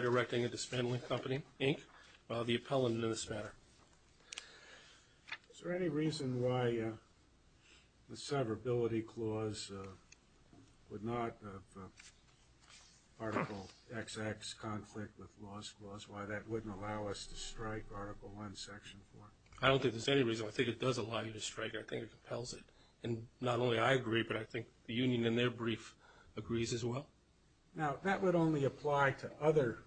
Directing and Dismantling Company, Inc., the appellant in this matter. Is there any reason why the severability clause would not have Article XX conflict with laws clause? Why that wouldn't allow us to strike Article I, Section 4? I don't think there's any reason. I think it does allow you to strike. I think it compels it. And not only I agree, but I think the union in their brief agrees as well. Now that would only apply to other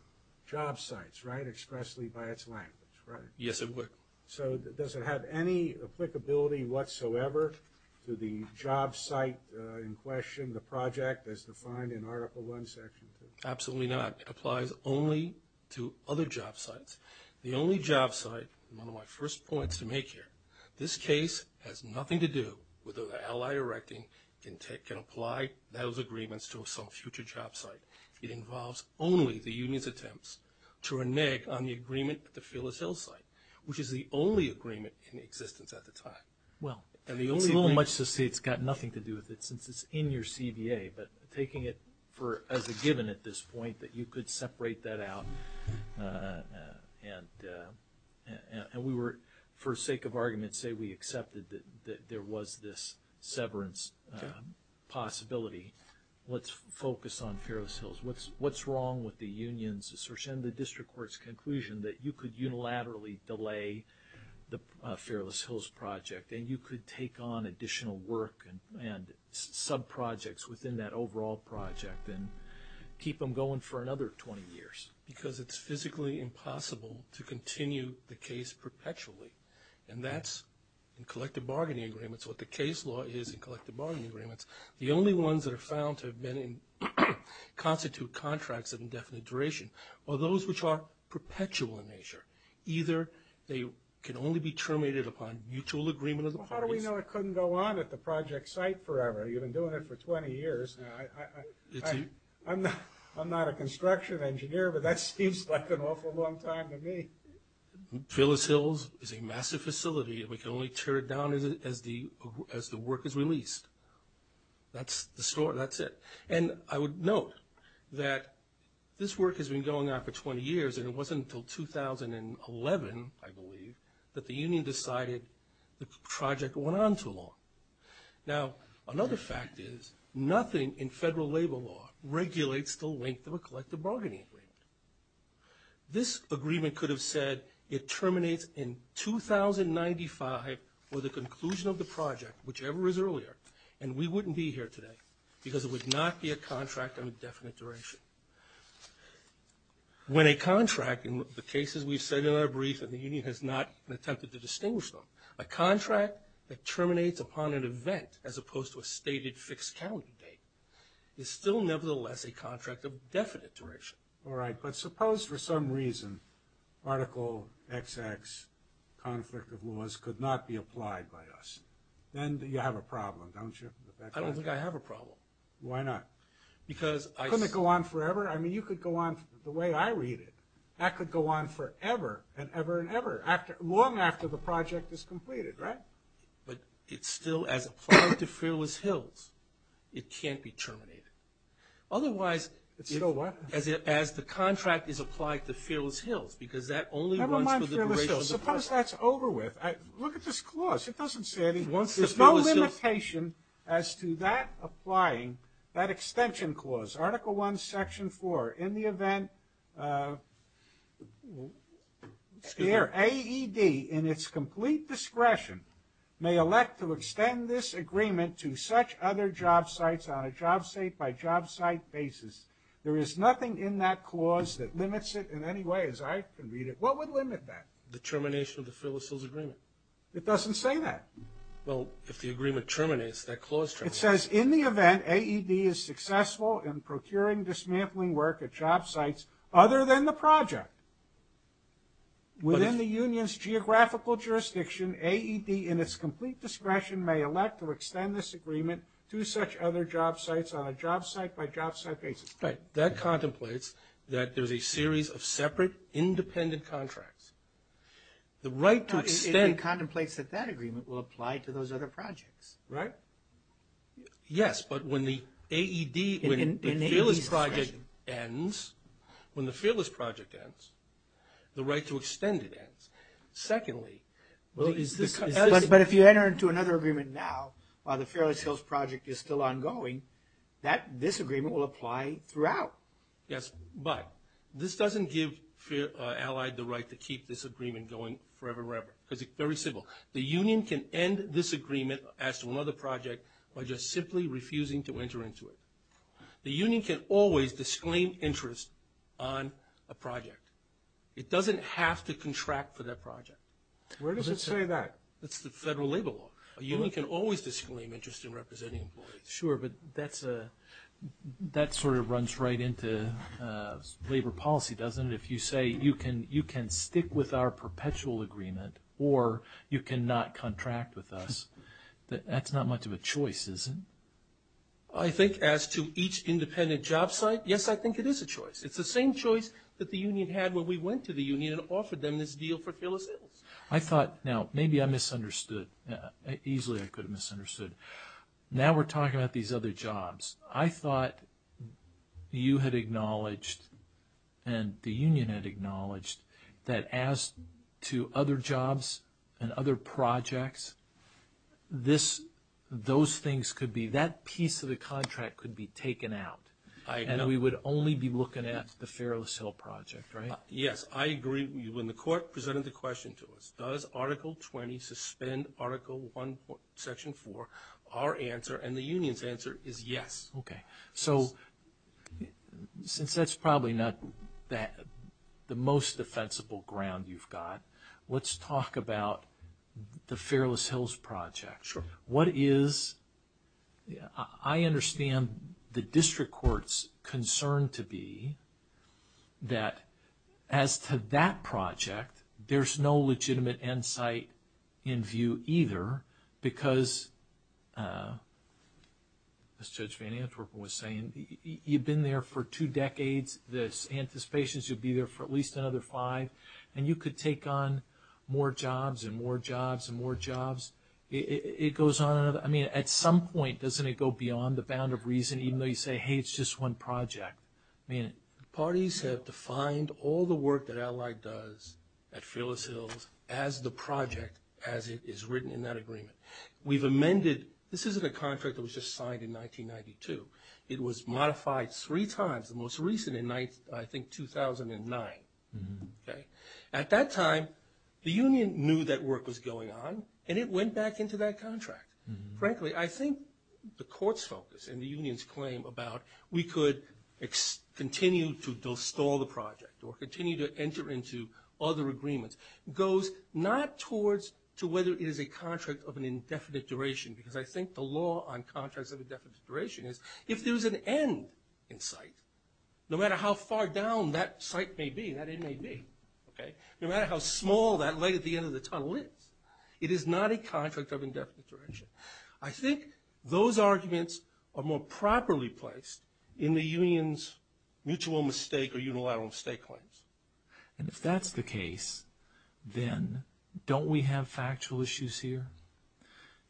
job sites, right, expressly by its language, right? Yes, it would. So does it have any applicability whatsoever to the job site in question, the project as defined in Article I, Section 2? Absolutely not. It applies only to other job sites. The only job site, one of my first points to make here, this case has nothing to do with whether Allied Directing can apply those agreements to some future job site. It involves only the union's attempts to renege on the agreement with the Phyllis Hill site, which is the only agreement in existence at the time. Well, it's a little much to say it's got nothing to do with it since it's in your separate that out, and we were, for sake of argument, say we accepted that there was this severance possibility. Let's focus on Phyllis Hill's. What's wrong with the union's assertion, the district court's conclusion that you could unilaterally delay the Phyllis Hill's project, and you could take on additional work and sub-projects within that overall project and keep them going for another 20 years? Because it's physically impossible to continue the case perpetually, and that's, in collective bargaining agreements, what the case law is in collective bargaining agreements, the only ones that are found to have been in constitute contracts of indefinite duration are those which are perpetual in nature. How do we know it couldn't go on at the project site forever? You've been doing it for 20 years. I'm not a construction engineer, but that seems like an awful long time to me. Phyllis Hill is a massive facility, and we can only tear it down as the work is released. That's the story. That's it. And I would note that this work has been going on for 20 years, and it wasn't until 2011, I believe, that the union decided the project went on too long. Now another fact is nothing in federal labor law regulates the length of a collective bargaining agreement. This agreement could have said it terminates in 2095 or the conclusion of the project, whichever is earlier, and we wouldn't be here today because it would not be a contract of indefinite duration. When a contract, in the cases we've said in our brief and the union has not attempted to distinguish them, a contract that terminates upon an event as opposed to a stated fixed county date is still nevertheless a contract of definite duration. All right, but suppose for some reason Article XX, conflict of laws, could not be applied by us. Then you have a problem, don't you? I don't think I have a problem. Why not? Because I... That could go on forever. I mean, you could go on the way I read it. That could go on forever and ever and ever, long after the project is completed, right? But it's still, as applied to Fearless Hills, it can't be terminated. Otherwise... It's still what? As the contract is applied to Fearless Hills, because that only runs for the duration of the project. Never mind Fearless Hills. Suppose that's over with. Look at this clause. It doesn't say anything. There's no limitation as to that applying that extension clause. Look at this. Article I, Section 4. In the event... Excuse me. ...AED, in its complete discretion, may elect to extend this agreement to such other jobsites on a jobsite-by-jobsite basis, there is nothing in that clause that limits it in any way as I can read it. What would limit that? The termination of the Fearless Hills Agreement. It doesn't say that. Well, if the agreement terminates, that clause terminates. It says, in the event AED is successful in procuring dismantling work at jobsites other than the project, within the union's geographical jurisdiction, AED, in its complete discretion, may elect to extend this agreement to such other jobsites on a jobsite-by-jobsite basis. Right. That contemplates that there's a series of separate, independent contracts. The right to extend... It contemplates that that agreement will apply to those other projects. Right? Yes. But when the AED... In AED's discretion. ...when the Fearless Project ends, when the Fearless Project ends, the right to extend it ends. Secondly... Well, is this... But if you enter into another agreement now, while the Fearless Hills Project is still ongoing, that disagreement will apply throughout. Yes. But this doesn't give Allied the right to keep this agreement going forever and ever, because it's very simple. The union can end this agreement as to another project by just simply refusing to enter into it. The union can always disclaim interest on a project. It doesn't have to contract for that project. Where does it say that? It's the federal labor law. A union can always disclaim interest in representing employees. Sure, but that sort of runs right into labor policy, doesn't it? But if you say, you can stick with our perpetual agreement, or you cannot contract with us, that's not much of a choice, is it? I think as to each independent job site, yes, I think it is a choice. It's the same choice that the union had when we went to the union and offered them this deal for Fearless Hills. I thought... Now, maybe I misunderstood. Easily, I could have misunderstood. Now we're talking about these other jobs. I thought you had acknowledged, and the union had acknowledged, that as to other jobs and other projects, those things could be... That piece of the contract could be taken out, and we would only be looking at the Fearless Hill project, right? Yes, I agree. When the court presented the question to us, does Article 20 suspend Article 1, Section 4? Our answer, and the union's answer, is yes. So since that's probably not the most defensible ground you've got, let's talk about the Fearless Hills project. What is... I understand the district court's concern to be that as to that project, there's no As Judge Van Antwerpen was saying, you've been there for two decades, this anticipation is you'll be there for at least another five, and you could take on more jobs and more jobs and more jobs. It goes on and on. I mean, at some point, doesn't it go beyond the bound of reason, even though you say, hey, it's just one project? Parties have defined all the work that Allied does at Fearless Hills as the project as it is written in that agreement. We've amended... This isn't a contract that was just signed in 1992. It was modified three times, the most recent in, I think, 2009, okay? At that time, the union knew that work was going on, and it went back into that contract. Frankly, I think the court's focus and the union's claim about we could continue to install the project or continue to enter into other agreements goes not towards to whether it is a contract of an indefinite duration, because I think the law on contracts of indefinite duration is if there's an end in sight, no matter how far down that site may be, that end may be, okay? No matter how small that leg at the end of the tunnel is, it is not a contract of indefinite duration. I think those arguments are more properly placed in the union's mutual mistake or unilateral mistake claims. And if that's the case, then don't we have factual issues here?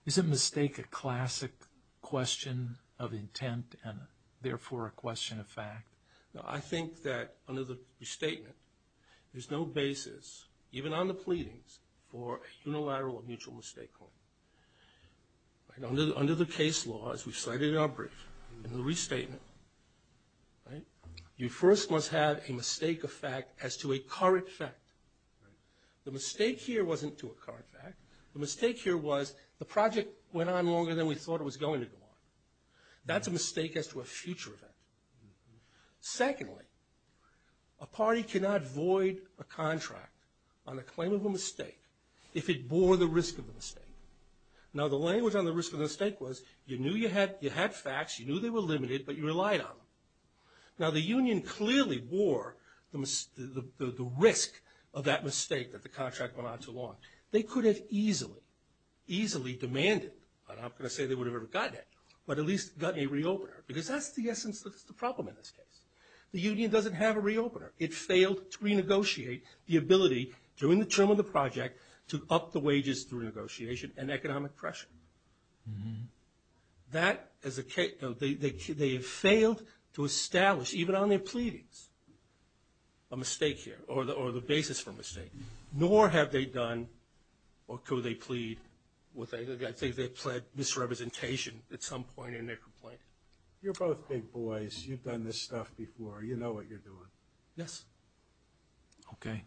Is a mistake a classic question of intent and therefore a question of fact? I think that under the restatement, there's no basis, even on the pleadings, for unilateral or mutual mistake claim. Under the case law, as we've cited in our brief, in the restatement, you first must have a mistake of fact as to a current fact. The mistake here wasn't to a current fact. The mistake here was the project went on longer than we thought it was going to go on. That's a mistake as to a future event. Secondly, a party cannot void a contract on a claim of a mistake if it bore the risk of a mistake. Now, the language on the risk of a mistake was you knew you had facts, you knew they were limited, but you relied on them. Now, the union clearly wore the risk of that mistake that the contract went on too long. They could have easily demanded, I'm not going to say they would have ever gotten it, but at least gotten a re-opener, because that's the essence of the problem in this case. The union doesn't have a re-opener. It failed to renegotiate the ability during the term of the project to up the wages through negotiation and economic pressure. That is a case, they have failed to establish even on their pleadings a mistake here or the basis for a mistake. Nor have they done or could they plead, I think they pled misrepresentation at some point in their complaint. You're both big boys. You've done this stuff before. You know what you're doing. Yes. Okay.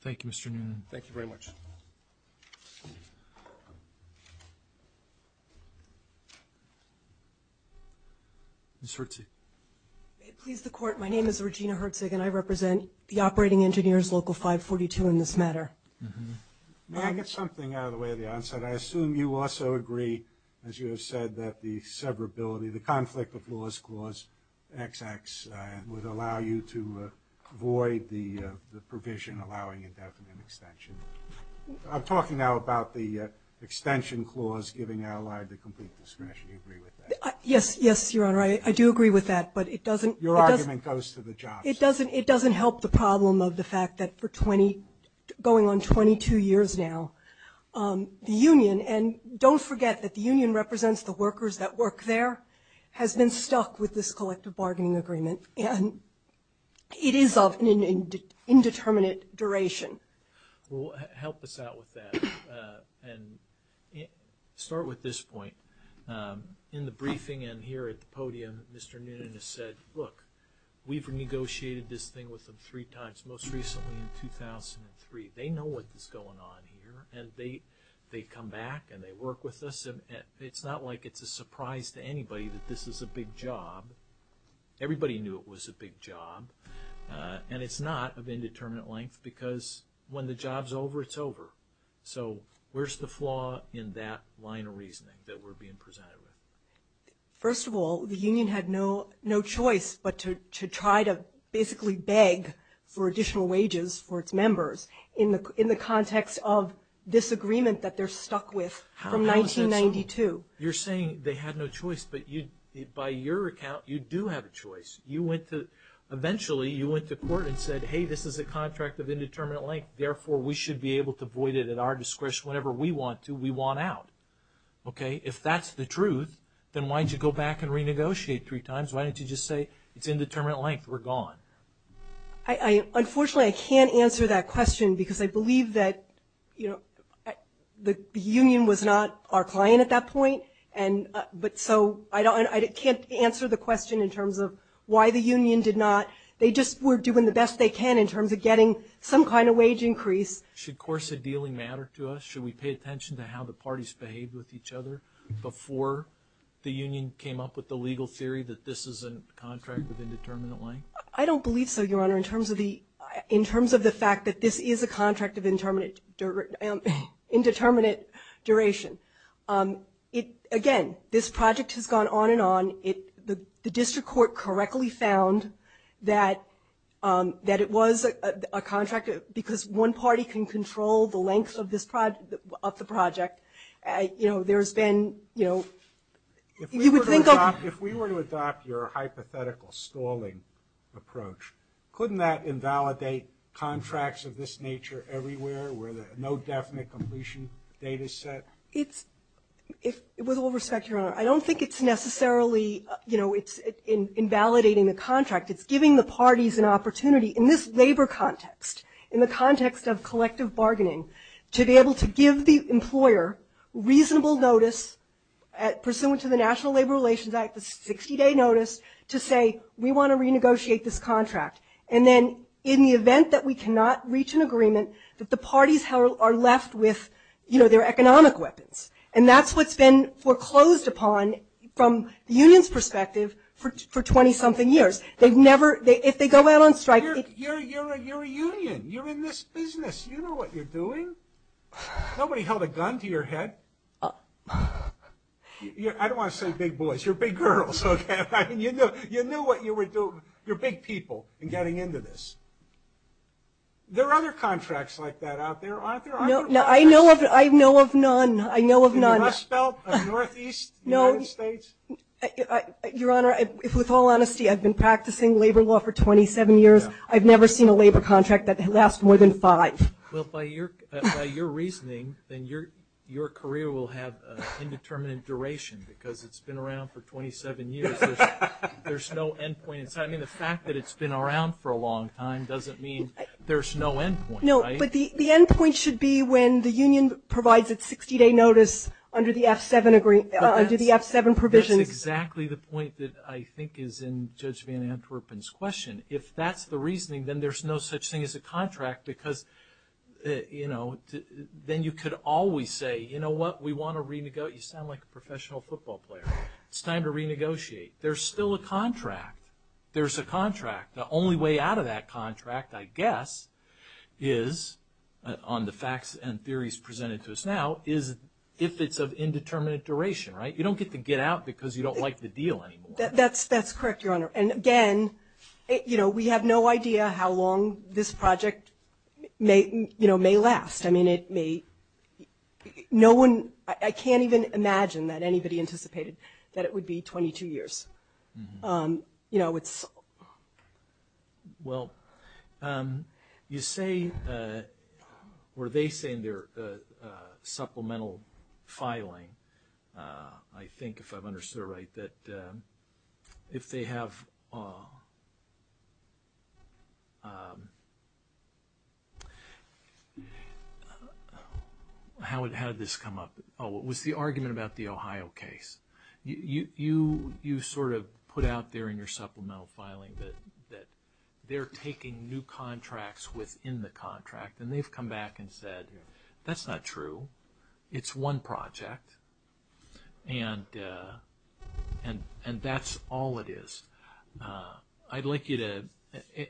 Thank you, Mr. Noonan. Thank you very much. Ms. Hertzig. May it please the Court, my name is Regina Hertzig and I represent the Operating Engineers Local 542 in this matter. May I get something out of the way of the answer? I assume you also agree, as you have said, that the severability, the conflict of laws clause XX would allow you to avoid the provision allowing indefinite extension. I'm talking now about the extension clause giving allied the complete discretion. Do you agree with that? Yes. Yes, Your Honor. I do agree with that, but it doesn't. Your argument goes to the jobs. It doesn't help the problem of the fact that for 20, going on 22 years now, the union, and don't forget that the union represents the workers that work there, has been stuck with this collective bargaining agreement and it is of indeterminate duration. Well, help us out with that and start with this point. In the briefing and here at the podium, Mr. Noonan has said, look, we've negotiated this thing with them three times, most recently in 2003. They know what is going on here and they come back and they work with us. It's not like it's a surprise to anybody that this is a big job. Everybody knew it was a big job and it's not of indeterminate length because when the job's over, it's over. So, where's the flaw in that line of reasoning that we're being presented with? First of all, the union had no choice but to try to basically beg for additional wages for its members in the context of disagreement that they're stuck with from 1992. You're saying they had no choice, but by your account, you do have a choice. Eventually, you went to court and said, hey, this is a contract of indeterminate length. Therefore, we should be able to void it at our discretion. Whenever we want to, we want out. If that's the truth, then why don't you go back and renegotiate three times? Why don't you just say it's indeterminate length, we're gone? Unfortunately, I can't answer that question because I believe that the union was not our concern at that point. I can't answer the question in terms of why the union did not. They just were doing the best they can in terms of getting some kind of wage increase. Should course of dealing matter to us? Should we pay attention to how the parties behaved with each other before the union came up with the legal theory that this is a contract of indeterminate length? I don't believe so, Your Honor, in terms of the fact that this is a contract of indeterminate duration. Again, this project has gone on and on. The district court correctly found that it was a contract because one party can control the length of the project. There's been, you would think of- If we were to adopt your hypothetical stalling approach, couldn't that invalidate contracts of this nature everywhere where no definite completion date is set? With all respect, Your Honor, I don't think it's necessarily invalidating the contract. It's giving the parties an opportunity in this labor context, in the context of collective bargaining, to be able to give the employer reasonable notice pursuant to the National Labor Relations Act, the 60-day notice, to say, we want to renegotiate this contract. Then, in the event that we cannot reach an agreement, that the parties are left with their economic weapons. That's what's been foreclosed upon from the union's perspective for 20-something years. If they go out on strike- You're a union. You're in this business. You know what you're doing. Nobody held a gun to your head. I don't want to say big boys. You're big girls. You knew what you were doing. You're big people in getting into this. There are other contracts like that out there, aren't there? I know of none. I know of none. The Rust Belt of Northeast United States? Your Honor, with all honesty, I've been practicing labor law for 27 years. I've never seen a labor contract that lasts more than five. Well, by your reasoning, then your career will have an indeterminate duration because it's been around for 27 years. There's no end point. I mean, the fact that it's been around for a long time doesn't mean there's no end point. No, but the end point should be when the union provides its 60-day notice under the F7 provisions. That's exactly the point that I think is in Judge Van Antwerpen's question. If that's the reasoning, then there's no such thing as a contract because, you know, then you could always say, you know what, we want to renegotiate. You sound like a professional football player. It's time to renegotiate. There's still a contract. There's a contract. The only way out of that contract, I guess, is, on the facts and theories presented to us now, is if it's of indeterminate duration, right? You don't get to get out because you don't like the deal anymore. That's correct, Your Honor. And again, you know, we have no idea how long this project, you know, may last. I mean, it may, no one, I can't even imagine that anybody anticipated that it would be 22 years. You know, it's... Well, you say, or they say in their supplemental filing, I think, if I've understood it right, that if they have... How did this come up? Oh, it was the argument about the Ohio case. You sort of put out there in your supplemental filing that they're taking new contracts within the contract. And they've come back and said, that's not true. It's one project. And that's all it is. I'd like you to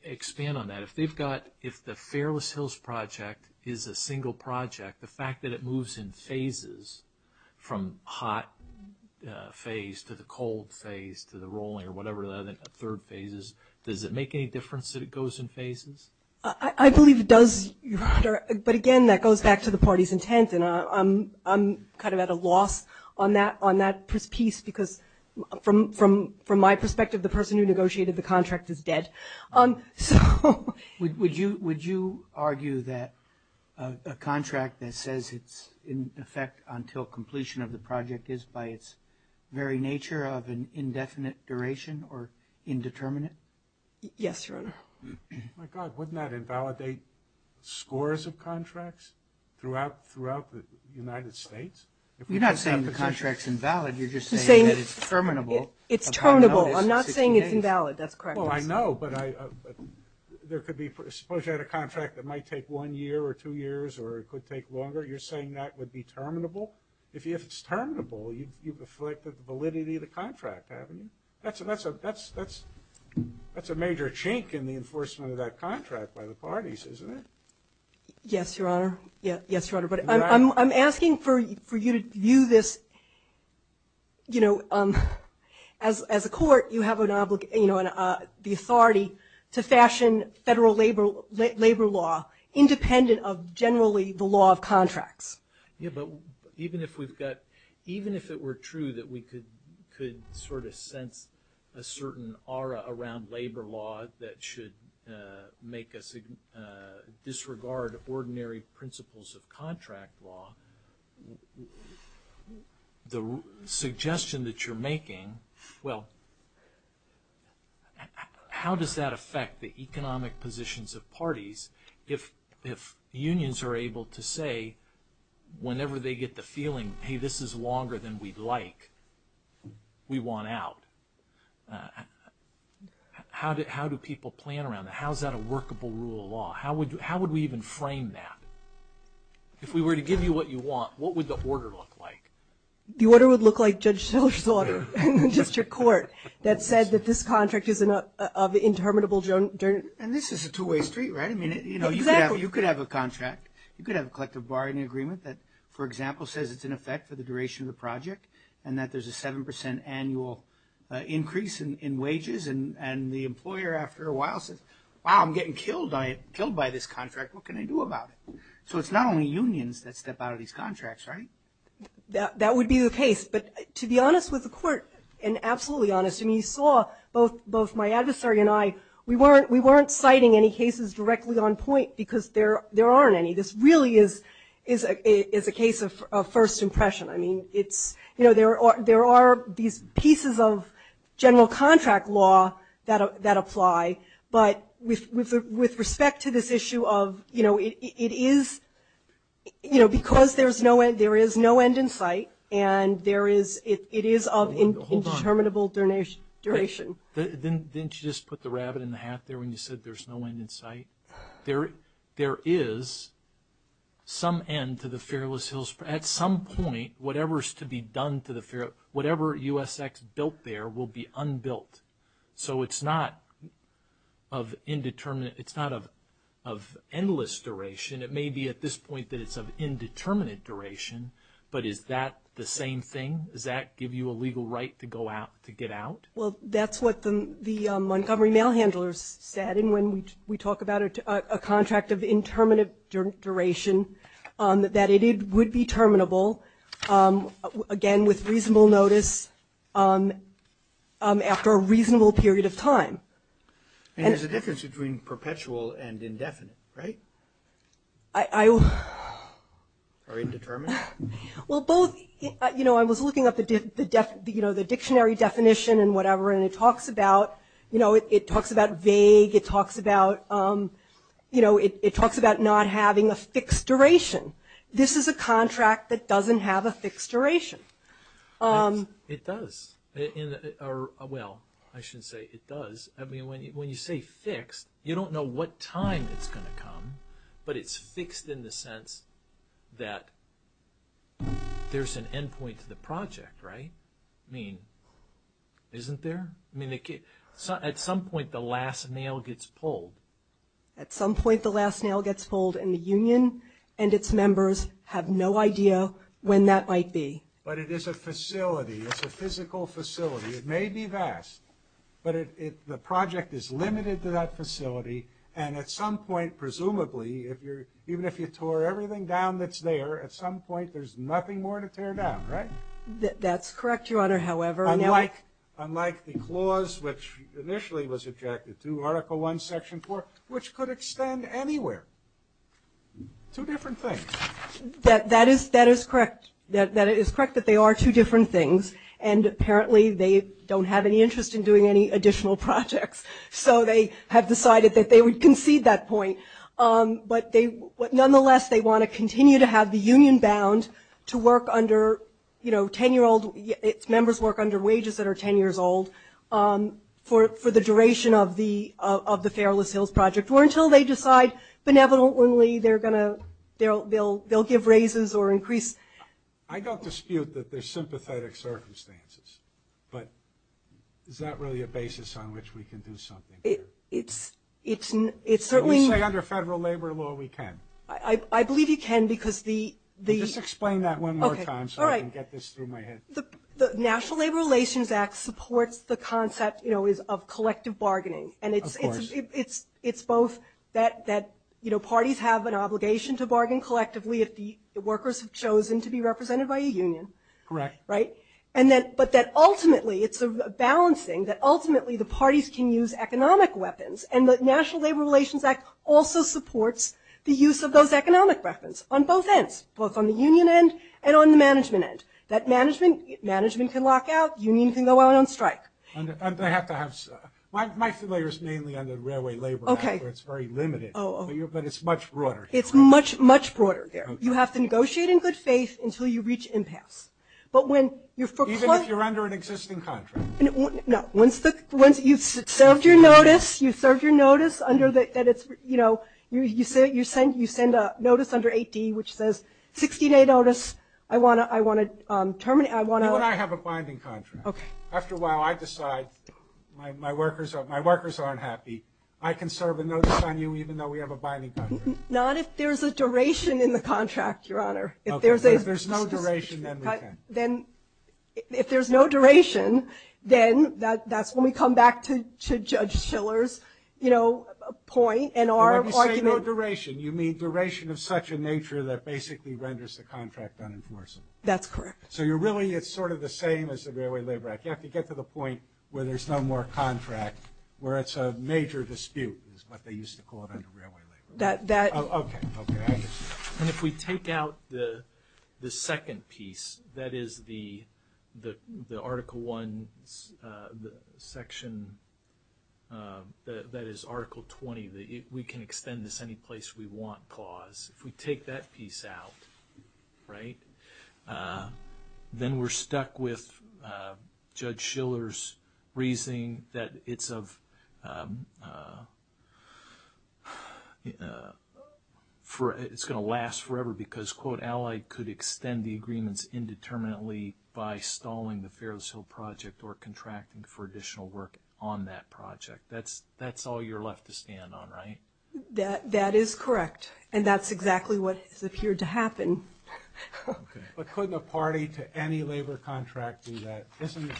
expand on that. If they've got, if the Fearless Hills project is a single project, the fact that it moves in phases, from hot phase to the cold phase to the rolling, or whatever the third phase is, does it make any difference that it goes in phases? I believe it does, Your Honor. But again, that goes back to the party's intent. And I'm kind of at a loss on that piece, because from my perspective, the person who negotiated the contract is dead. So... Would you argue that a contract that says it's in effect until completion of the project is by its very nature of an indefinite duration or indeterminate? Yes, Your Honor. My God, wouldn't that invalidate scores of contracts throughout the United States? You're not saying the contract's invalid. You're just saying that it's terminable. It's terminable. I'm not saying it's invalid. That's correct. Well, I know, but there could be... Suppose you had a contract that might take one year or two years, or it could take longer. You're saying that would be terminable? If it's terminable, you've afflicted the validity of the contract, haven't you? That's a major chink in the enforcement of that contract by the parties, isn't it? Yes, Your Honor. Yes, Your Honor. But I'm asking for you to view this... As a court, you have the authority to fashion federal labor law independent of generally the law of contracts. Yeah, but even if we've got... Even if it were true that we could sort of sense a certain aura around labor law that should make us disregard ordinary principles of contract law, the suggestion that you're making... Well, how does that affect the economic positions of parties if unions are able to say, whenever they get the feeling, hey, this is longer than we'd like, we want out? How do people plan around that? How is that a workable rule of law? How would we even frame that? If we were to give you what you want, what would the order look like? The order would look like Judge Shiller's order in district court that said that this contract is of interminable... And this is a two-way street, right? You could have a contract. You could have a collective bargaining agreement that, for example, says it's in effect for the duration of the project and that there's a 7% annual increase in wages and the employer, after a while, says, wow, I'm getting killed by this contract. What can I do about it? So it's not only unions that step out of these contracts, right? That would be the case. But to be honest with the court, and absolutely honest, you saw both my adversary and I, we weren't citing any cases directly on point because there aren't any. This really is a case of first impression. There are these pieces of general contract law that apply, but with respect to this issue of, you know, it is... You know, because there is no end in sight and it is of indeterminable duration... Hold on. Didn't you just put the rabbit in the hat there when you said there's no end in sight? There is some end to the Fearless Hills... At some point, whatever's to be done to the... Whatever USX built there will be unbuilt. So it's not of indeterminate... It's not of endless duration. It may be at this point that it's of indeterminate duration, but is that the same thing? Does that give you a legal right to go out, to get out? Well, that's what the Montgomery Mail Handlers said, and when we talk about a contract of interminable duration, that it would be terminable, again, with reasonable notice, after a reasonable period of time. And there's a difference between perpetual and indefinite, right? I... Or indeterminate? Well, both... You know, I was looking up the dictionary definition and whatever, and it talks about... You know, it talks about vague, it talks about... You know, it talks about not having a fixed duration. This is a contract that doesn't have a fixed duration. It does. Well, I shouldn't say it does. I mean, when you say fixed, you don't know what time it's going to come, but it's fixed in the sense that there's an endpoint to the project, right? I mean, isn't there? I mean, at some point, the last nail gets pulled. At some point, the last nail gets pulled, and the union and its members have no idea when that might be. But it is a facility. It's a physical facility. It may be vast, but the project is limited to that facility, and at some point, presumably, even if you tore everything down that's there, at some point, there's nothing more to tear down, right? That's correct, Your Honor, however... Unlike the clause, which initially was objected to, Article I, Section 4, which could extend anywhere. Two different things. That is correct, that it is correct that they are two different things, and apparently they don't have any interest in doing any additional projects, so they have decided that they would concede that point. But nonetheless, they want to continue to have the union bound to work under, you know, 10-year-old... Its members work under wages that are 10 years old for the duration of the Fairless Hills Project, or until they decide benevolently they're going to... They'll give raises or increase... I don't dispute that there's sympathetic circumstances, but is that really a basis on which we can do something? It's certainly... Can we say under federal labor law we can? I believe you can, because the... Just explain that one more time, so I can get this through my head. The National Labor Relations Act supports the concept, you know, of collective bargaining, and it's both... You have an obligation to bargain collectively if the workers have chosen to be represented by a union. Correct. Right? But that ultimately, it's a balancing, that ultimately the parties can use economic weapons, and the National Labor Relations Act also supports the use of those economic weapons, on both ends, both on the union end and on the management end, that management can lock out, union can go out on strike. I have to have... My flair is mainly under railway labor, where it's very limited, but it's much broader. It's much, much broader there. You have to negotiate in good faith until you reach impasse. Even if you're under an existing contract? No. Once you've served your notice, you've served your notice, you know, you send a notice under 8D, which says, 16-day notice, I want to terminate, I want to... Even when I have a binding contract. After a while, I decide, my workers aren't happy, I can serve a notice on you, even though we have a binding contract. Not if there's a duration in the contract, Your Honor. If there's no duration, then we can. If there's no duration, then that's when we come back to Judge Shiller's, you know, point, and our argument... When I say no duration, you mean duration of such a nature that basically renders the contract unenforcing. That's correct. So you're really, it's sort of the same as the Railway Labor Act. You have to get to the point where there's no more contract, where it's a major dispute, is what they used to call it under Railway Labor Act. And if we take out the second piece, that is the Article 1 section, that is Article 20, we can extend this any place we want clause. If we take that piece out, right, then we're stuck with Judge Shiller's reasoning that it's of... It's going to last forever because, quote, Allied could extend the agreements indeterminately by stalling the Ferris Hill project or contracting for additional work on that project. That's all you're left to stand on, right? That is correct. And that's exactly what's appeared to happen. But couldn't a party to any labor contract do that? Isn't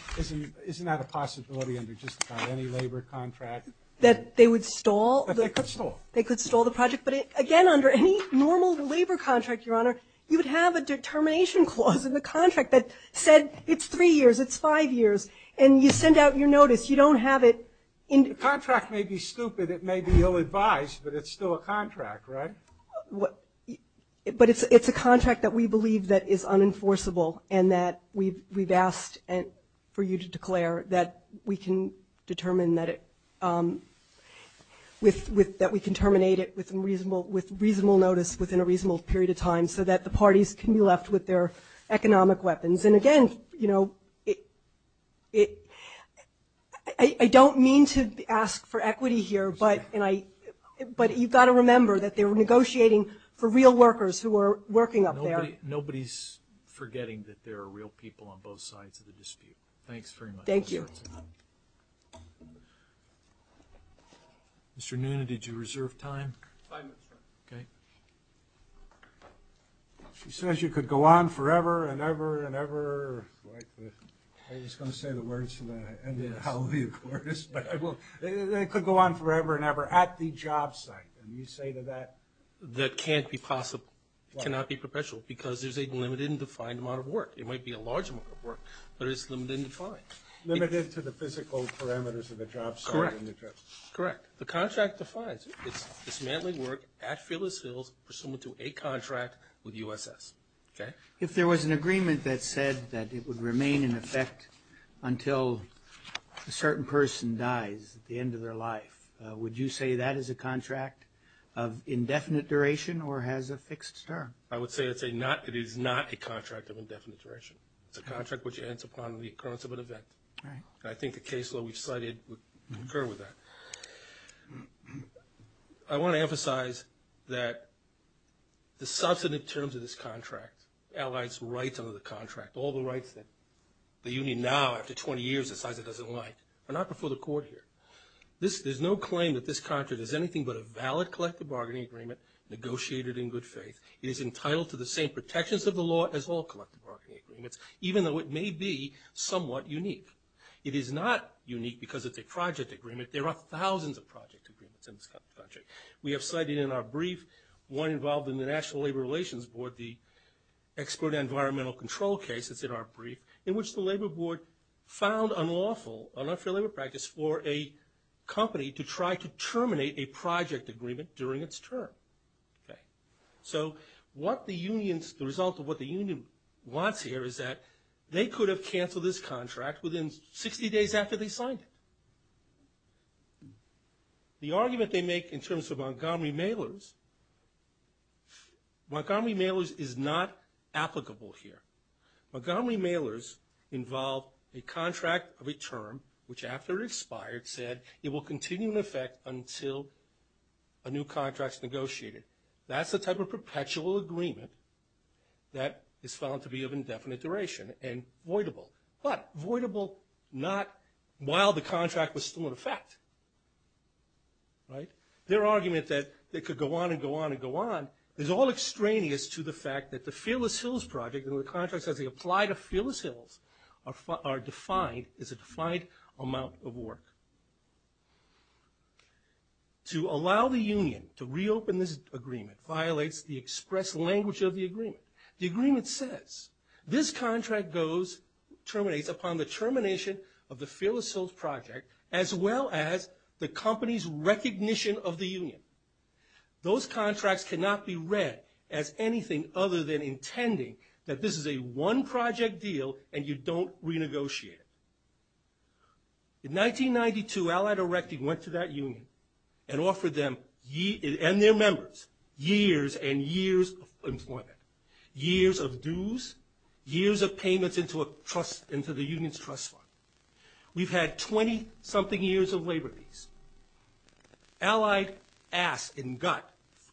that a possibility under just about any labor contract? That they would stall? They could stall the project, but again, under any normal labor contract, Your Honor, you would have a determination clause in the contract that said it's three years, it's five years, and you send out your notice. The contract may be stupid, it may be ill-advised, but it's still a contract, right? But it's a contract that we believe that is unenforceable and that we've asked for you to declare that we can determine that it... that we can terminate it with reasonable notice within a reasonable period of time so that the parties can be left with their economic weapons. And again, you know, I don't mean to ask for equity here, but you've got to remember that they're negotiating for real workers who are working up there. Nobody's forgetting that there are real people on both sides of the dispute. Thanks very much. Thank you. Mr. Nuna, did you reserve time? Five minutes, sir. She says you could go on forever and ever and ever like the... I was going to say the words to the end of the hallelujah chorus, but I won't. They could go on forever and ever at the job site. And you say to that... That can't be possible. It cannot be perpetual because there's a limited and defined amount of work. It might be a large amount of work, but it's limited and defined. Limited to the physical parameters of the job site. Correct. The contract defines it's manly work at Phyllis Hills, pursuant to a contract with USS. If there was an agreement that said that it would remain in effect until a certain person dies at the end of their life, would you say that is a contract of indefinite duration or has a fixed term? I would say it is not a contract of indefinite duration. It's a contract which ends upon the occurrence of an event. I think the case law we've cited would concur with that. I want to emphasize that the substantive terms of this contract allies rights under the contract, all the rights that the union now, after 20 years, decides it doesn't like, are not before the court here. There's no claim that this contract is anything but a valid collective bargaining agreement negotiated in good faith. It is entitled to the same protections of the law as all collective bargaining agreements, even though it may be somewhat unique. It is not unique because it's a project agreement. There are thousands of project agreements in this country. We have cited in our brief, one involved in the National Labor Relations Board, the expert environmental control case that's in our brief, in which the labor board found unlawful, an unfair labor practice for a company to try to terminate a project agreement during its term. So what the union's, the result of what the union wants here is that they could have canceled this contract within 60 days after they signed it. The argument they make in terms of Montgomery Mailers, Montgomery Mailers is not applicable here. Montgomery Mailers involved a contract of a term which after it expired said it will continue in effect until a new contract's negotiated. That's the type of perpetual agreement that is found to be of indefinite duration and voidable, but voidable not while the contract was still in effect. Their argument that it could go on and go on and go on is all extraneous to the fact that the Fearless Hills project and the contracts as they apply to Fearless Hills are defined, is a defined amount of work. To allow the union to reopen this agreement violates the express language of the agreement. The agreement says this contract goes, terminates upon the termination of the Fearless Hills project as well as the company's recognition of the union. Those contracts cannot be read as anything other than intending that this is a one project deal and you don't renegotiate it. In 1992, Allied Erecting went to that union and offered them and their members years and years of employment, years of dues, years of payments into the union's trust fund. We've had 20 something years of labor fees. Allied asked in gut,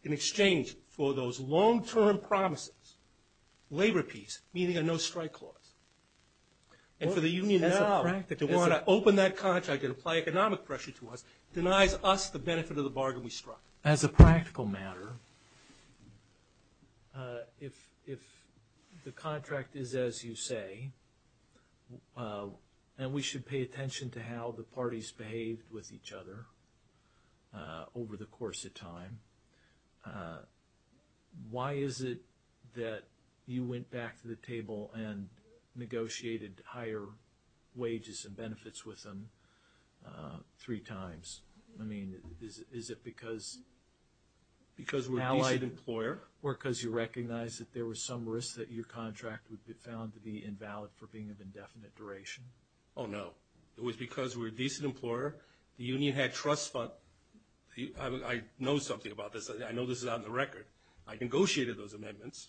in exchange for those long term promises, labor fees, meaning a no strike clause. And for the union now to want to open that contract and apply economic pressure to us denies us the benefit of the bargain we struck. As a practical matter, if the contract is as you say and we should pay attention to how the parties behaved with each other over the course of time, why is it that you went back to the table and negotiated higher wages and benefits with them three times? I mean, is it because Allied employer? Or because you recognized that there was some risk that your contract would be found to be invalid for being of indefinite duration? Oh no. It was because we were a decent employer, the union had trust fund. I know something about this. I know this is on the record. I negotiated those amendments.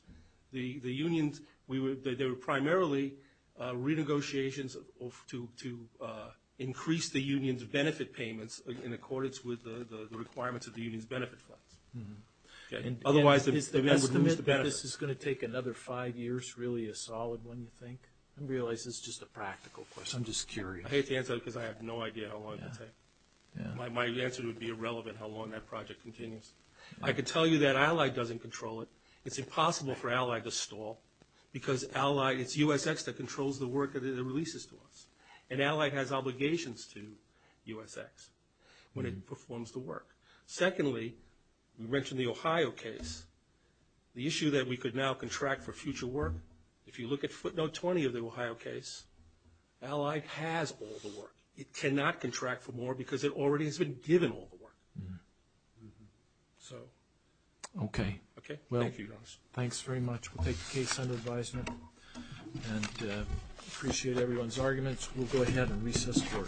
The unions, they were primarily renegotiations to increase the union's benefit payments in accordance with the requirements of the union's benefit funds. Otherwise the union would lose the benefit. Is the estimate that this is going to take another five years really a solid one you think? I realize this is just a practical question. I'm just curious. I hate to answer it because I have no idea how long it will take. My answer would be irrelevant how long that project continues. I can tell you that Allied doesn't control it. It's impossible for Allied to stall because Allied, it's USX that controls the work that it releases to us. And Allied has obligations to USX when it performs the work. Secondly, we mentioned the Ohio case. The issue that we could now contract for future work, if you look at footnote 20 of the Ohio case, Allied has all the work. It cannot contract for more because it already has been given all the work. Okay. Thank you. Thanks very much. We'll take the case under advisement. I appreciate everyone's arguments. We'll go ahead and recess the board. Thank you.